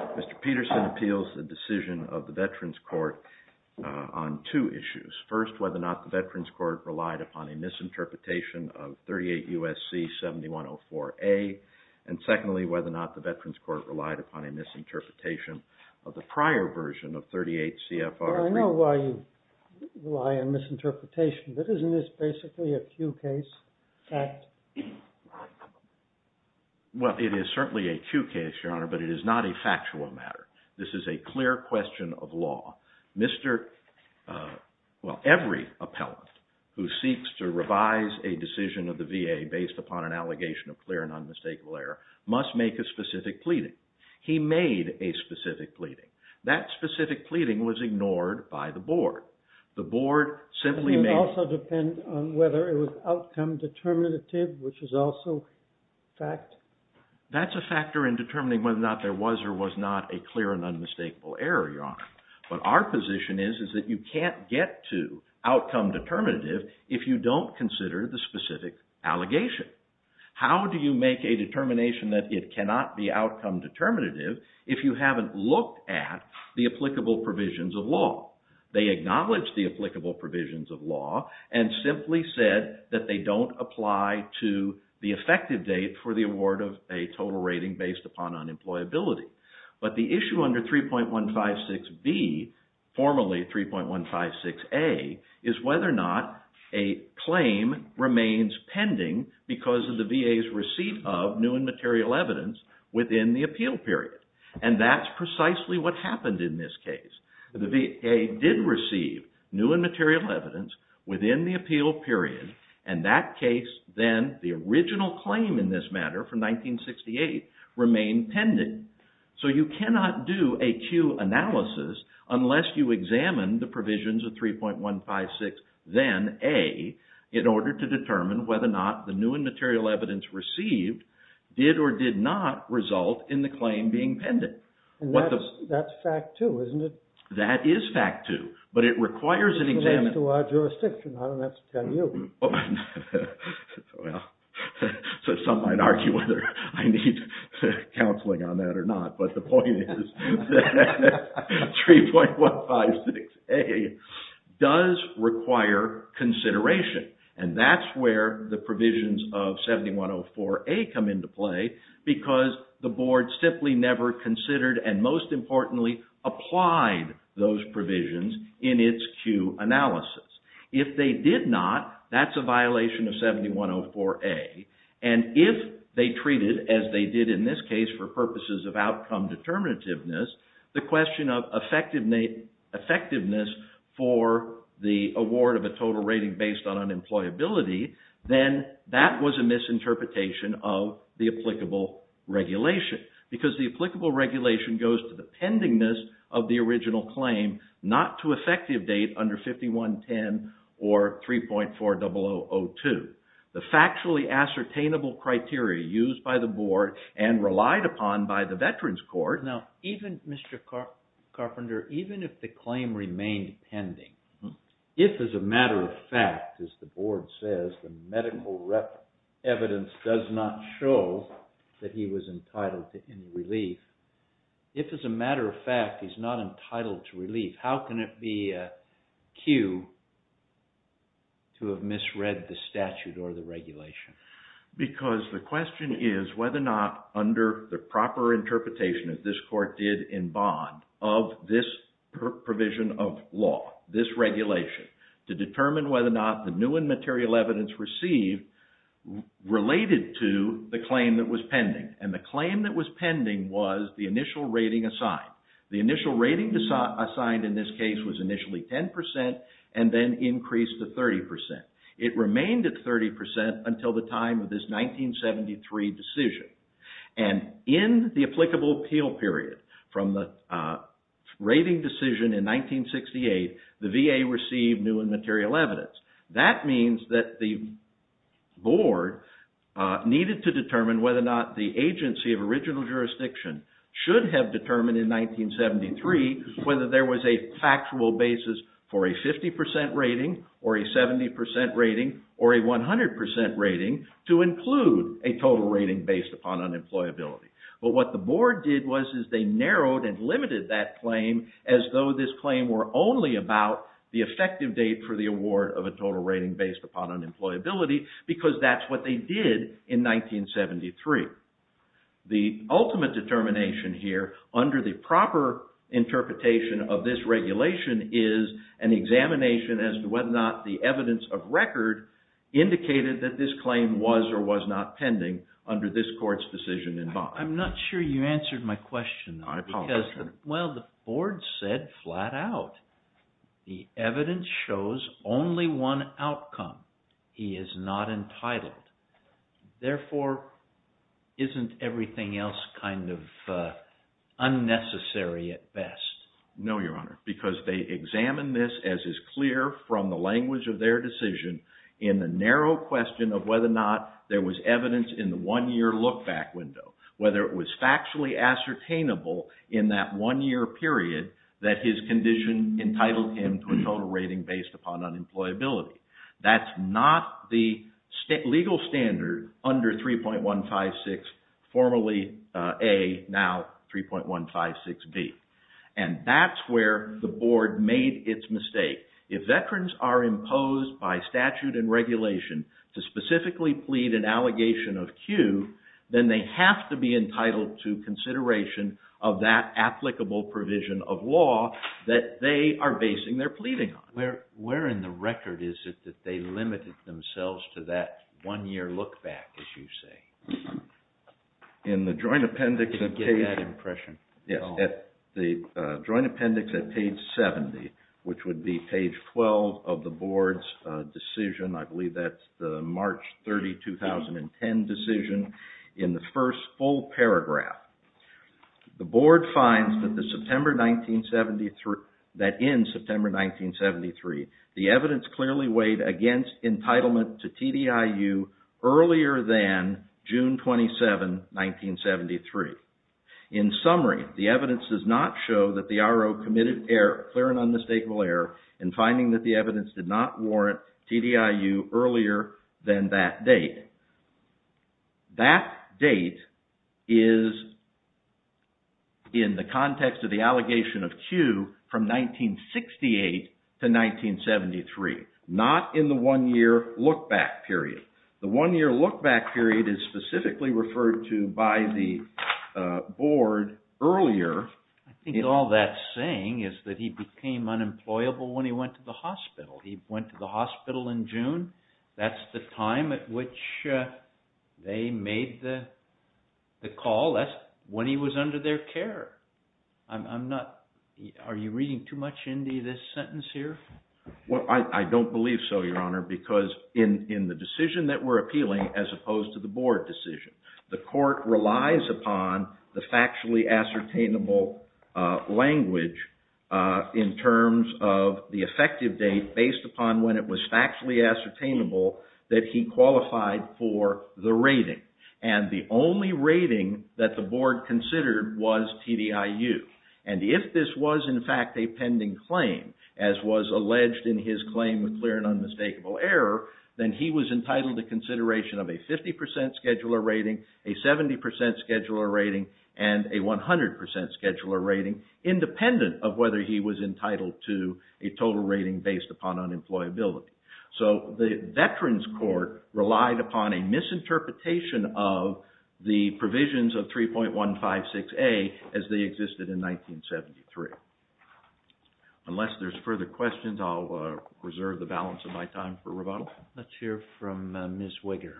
Mr. Peterson appeals the decision of the Veterans Court on two issues. First, whether or not the Veterans Court relied upon a misinterpretation of 38 U.S.C. 7104A, and secondly, whether or not the Veterans Court relied upon a misinterpretation of the prior version of 38 C.F.R. 3. I don't know why you rely on misinterpretation, but isn't this basically a Q case fact? Well, it is certainly a Q case, Your Honor, but it is not a factual matter. This is a clear question of law. Every appellant who seeks to revise a decision of the VA based upon an allegation of clear and unmistakable error must make a specific pleading. He made a specific pleading. That specific pleading was ignored by the board. It would also depend on whether it was outcome determinative, which is also fact. That's a factor in determining whether or not there was or was not a clear and unmistakable error, Your Honor. But our position is that you can't get to outcome determinative if you don't consider the specific allegation. How do you make a determination that it cannot be outcome determinative if you haven't looked at the applicable provisions of law? They acknowledged the applicable provisions of law and simply said that they don't apply to the effective date for the award of a total rating based upon unemployability. But the issue under 3.156B, formerly 3.156A, is whether or not a claim remains pending because of the VA's receipt of new and material evidence within the appeal period. And that's precisely what happened in this case. The VA did receive new and material evidence within the appeal period, and that case then, the original claim in this matter from 1968, remained pending. So you cannot do a Q analysis unless you examine the provisions of 3.156, then A, in order to determine whether or not the new and material evidence received did or did not result in the claim being pending. That's fact too, isn't it? That is fact too, but it requires an examination. That's to our jurisdiction, I don't have to tell you. Well, some might argue whether I need counseling on that or not, but the point is that 3.156A does require consideration, and that's where the provisions of 7104A come into play because the board simply never considered and, most importantly, applied those provisions in its Q analysis. If they did not, that's a violation of 7104A. And if they treated, as they did in this case for purposes of outcome determinativeness, the question of effectiveness for the award of a total rating based on unemployability, then that was a misinterpretation of the applicable regulation. Because the applicable regulation goes to the pendingness of the original claim, not to effective date under 5110 or 3.4002. The factually ascertainable criteria used by the board and relied upon by the Veterans Court. Now, Mr. Carpenter, even if the claim remained pending, if as a matter of fact, as the board says, the medical evidence does not show that he was entitled to relief, if as a matter of fact he's not entitled to relief, how can it be a cue to have misread the statute or the regulation? Because the question is whether or not under the proper interpretation that this court did in bond of this provision of law, this regulation, to determine whether or not the new and material evidence received related to the claim that was pending. And the claim that was pending was the initial rating assigned. The initial rating assigned in this case was initially 10% and then increased to 30%. It remained at 30% until the time of this 1973 decision. And in the applicable appeal period from the rating decision in 1968, the VA received new and material evidence. That means that the board needed to determine whether or not the agency of original jurisdiction should have determined in 1973 whether there was a factual basis for a 50% rating or a 70% rating or a 100% rating to include a total rating based upon unemployability. But what the board did was they narrowed and limited that claim as though this claim were only about the effective date for the award of a total rating based upon unemployability because that's what they did in 1973. The ultimate determination here under the proper interpretation of this regulation is an examination as to whether or not the evidence of record indicated that this claim was or was not pending under this court's decision in bond. I'm not sure you answered my question. I apologize. Well, the board said flat out the evidence shows only one outcome. He is not entitled. Therefore, isn't everything else kind of unnecessary at best? No, Your Honor, because they examined this as is clear from the language of their decision in the narrow question of whether or not there was evidence in the one-year look-back window. Whether it was factually ascertainable in that one-year period that his condition entitled him to a total rating based upon unemployability. That's not the legal standard under 3.156, formerly A, now 3.156B. And that's where the board made its mistake. If veterans are imposed by statute and regulation to specifically plead an allegation of Q, then they have to be entitled to consideration of that applicable provision of law that they are basing their pleading on. Where in the record is it that they limited themselves to that one-year look-back, as you say? In the joint appendix at page 70, which would be page 12 of the board's decision, I believe that's the March 30, 2010 decision, in the first full paragraph. The board finds that in September 1973, the evidence clearly weighed against entitlement to TDIU earlier than June 27, 1973. In summary, the evidence does not show that the RO committed clear and unmistakable error in finding that the evidence did not warrant TDIU earlier than that date. That date is in the context of the allegation of Q from 1968 to 1973, not in the one-year look-back period. The one-year look-back period is specifically referred to by the board earlier. I think all that's saying is that he became unemployable when he went to the hospital. He went to the hospital in June. That's the time at which they made the call. That's when he was under their care. Are you reading too much into this sentence here? Well, I don't believe so, Your Honor, because in the decision that we're appealing, as opposed to the board decision, the court relies upon the factually ascertainable language in terms of the effective date based upon when it was factually ascertainable that he qualified for the rating. And the only rating that the board considered was TDIU. And if this was, in fact, a pending claim, as was alleged in his claim of clear and unmistakable error, then he was entitled to consideration of a 50% scheduler rating, a 70% scheduler rating, and a 100% scheduler rating, independent of whether he was entitled to a total rating based upon unemployability. So the Veterans Court relied upon a misinterpretation of the provisions of 3.156A as they existed in 1973. Unless there's further questions, I'll reserve the balance of my time for rebuttal. Let's hear from Ms. Wigger.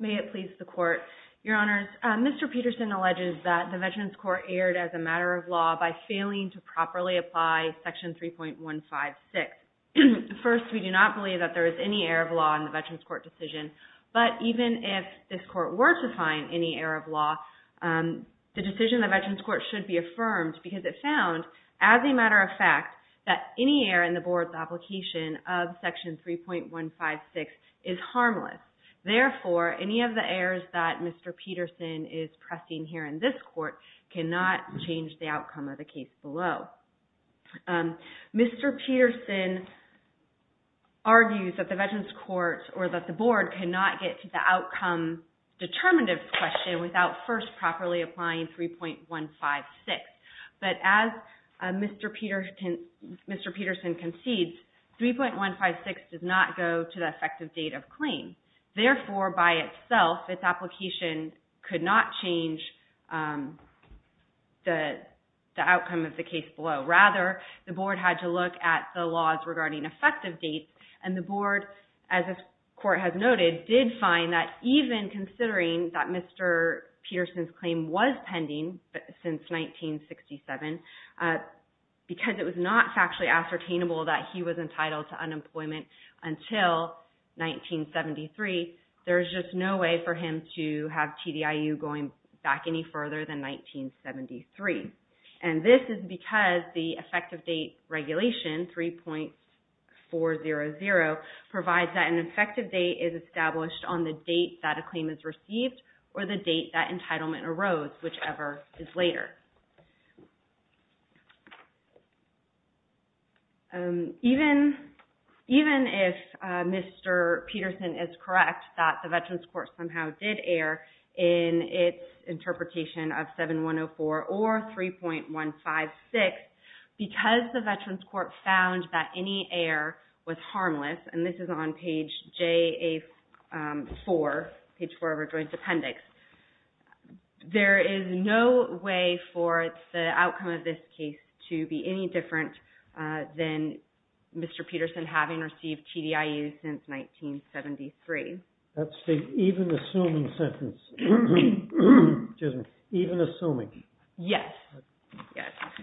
May it please the Court. Your Honors, Mr. Peterson alleges that the Veterans Court erred as a matter of law by failing to properly apply Section 3.156. First, we do not believe that there is any error of law in the Veterans Court decision. But even if this Court were to find any error of law, the decision of the Veterans Court should be affirmed because it found, as a matter of fact, that any error in the Board's application of Section 3.156 is harmless. Therefore, any of the errors that Mr. Peterson is pressing here in this Court cannot change the outcome of the case below. Mr. Peterson argues that the Veterans Court or that the Board cannot get to the outcome determinative question without first properly applying 3.156. But as Mr. Peterson concedes, 3.156 does not go to the effective date of claim. Therefore, by itself, its application could not change the outcome of the case below. Rather, the Board had to look at the laws regarding effective dates, and the Board, as the Court has noted, did find that even considering that Mr. Peterson's claim was pending since 1967, because it was not factually ascertainable that he was entitled to unemployment until 1973, there's just no way for him to have TDIU going back any further than 1973. And this is because the effective date regulation, 3.400, provides that an effective date is established on the date that a claim is received or the date that entitlement arose, whichever is later. Even if Mr. Peterson is correct that the Veterans Court somehow did err in its interpretation of 7104 or 3.156, because the Veterans Court found that any error was harmless, and this is on page 4 of our Joint Appendix, there is no way for the outcome of this case to be any different than Mr. Peterson having received TDIU since 1973. That states, even assuming sentence. Excuse me. Even assuming. Yes.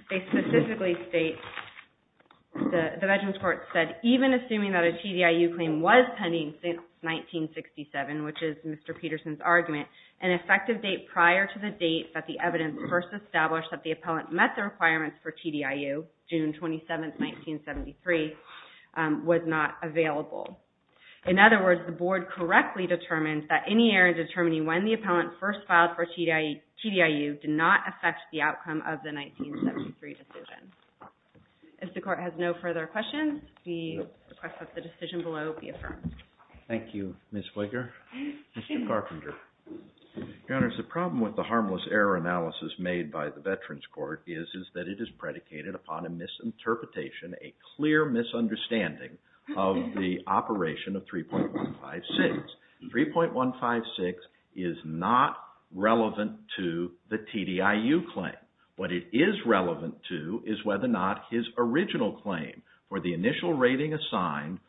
They specifically state, the Veterans Court said, even assuming that a TDIU claim was pending since 1967, which is Mr. Peterson's argument, an effective date prior to the date that the evidence first established that the appellant met the requirements for TDIU, June 27, 1973, was not available. In other words, the Board correctly determined that any error in determining when the appellant first filed for TDIU did not affect the outcome of the 1973 decision. If the Court has no further questions, we request that the decision below be affirmed. Thank you, Ms. Flicker. Mr. Carpenter. Your Honors, the problem with the harmless error analysis made by the Veterans Court is that it is predicated upon a misinterpretation, a clear misunderstanding, of the operation of 3.156. 3.156 is not relevant to the TDIU claim. What it is relevant to is whether or not his original claim for the initial rating assigned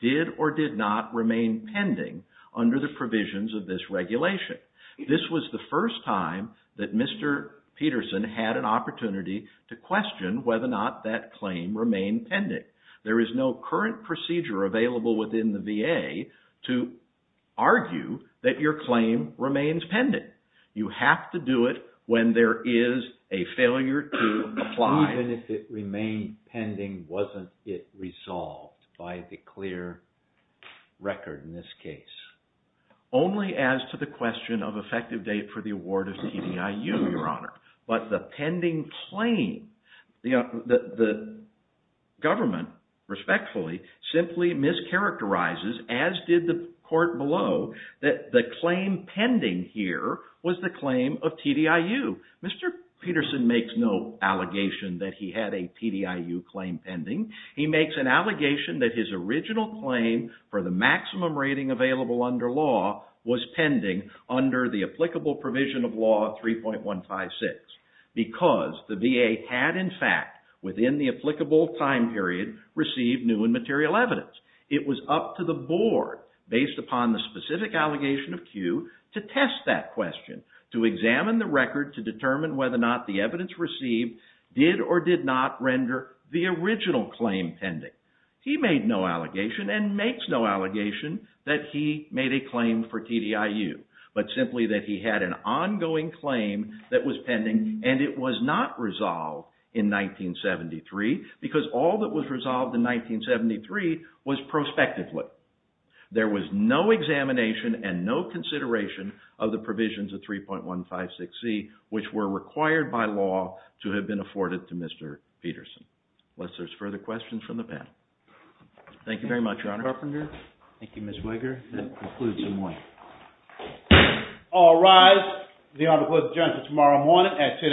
did or did not remain pending under the provisions of this regulation. This was the first time that Mr. Peterson had an opportunity to question whether or not that claim remained pending. There is no current procedure available within the VA to argue that your claim remains pending. You have to do it when there is a failure to apply. Even if it remained pending, wasn't it resolved by the clear record in this case? Only as to the question of effective date for the award of TDIU, Your Honor. But the pending claim, the government, respectfully, simply mischaracterizes, as did the Court below, that the claim pending here was the claim of TDIU. Mr. Peterson makes no allegation that he had a TDIU claim pending. He makes an allegation that his original claim for the maximum rating available under law was pending under the applicable provision of Law 3.156 because the VA had, in fact, within the applicable time period, received new and material evidence. It was up to the Board, based upon the specific allegation of Kew, to test that question, to examine the record to determine whether or not the evidence received did or did not render the original claim pending. He made no allegation and makes no allegation that he made a claim for TDIU, but simply that he had an ongoing claim that was pending and it was not resolved in 1973 because all that was resolved in 1973 was prospectively. There was no examination and no consideration of the provisions of 3.156c, which were required by law to have been afforded to Mr. Peterson. Unless there's further questions from the panel. Thank you very much, Your Honor. Thank you, Ms. Wager. That concludes the morning. All rise. The Honor declares adjournment until tomorrow morning at 10 a.m.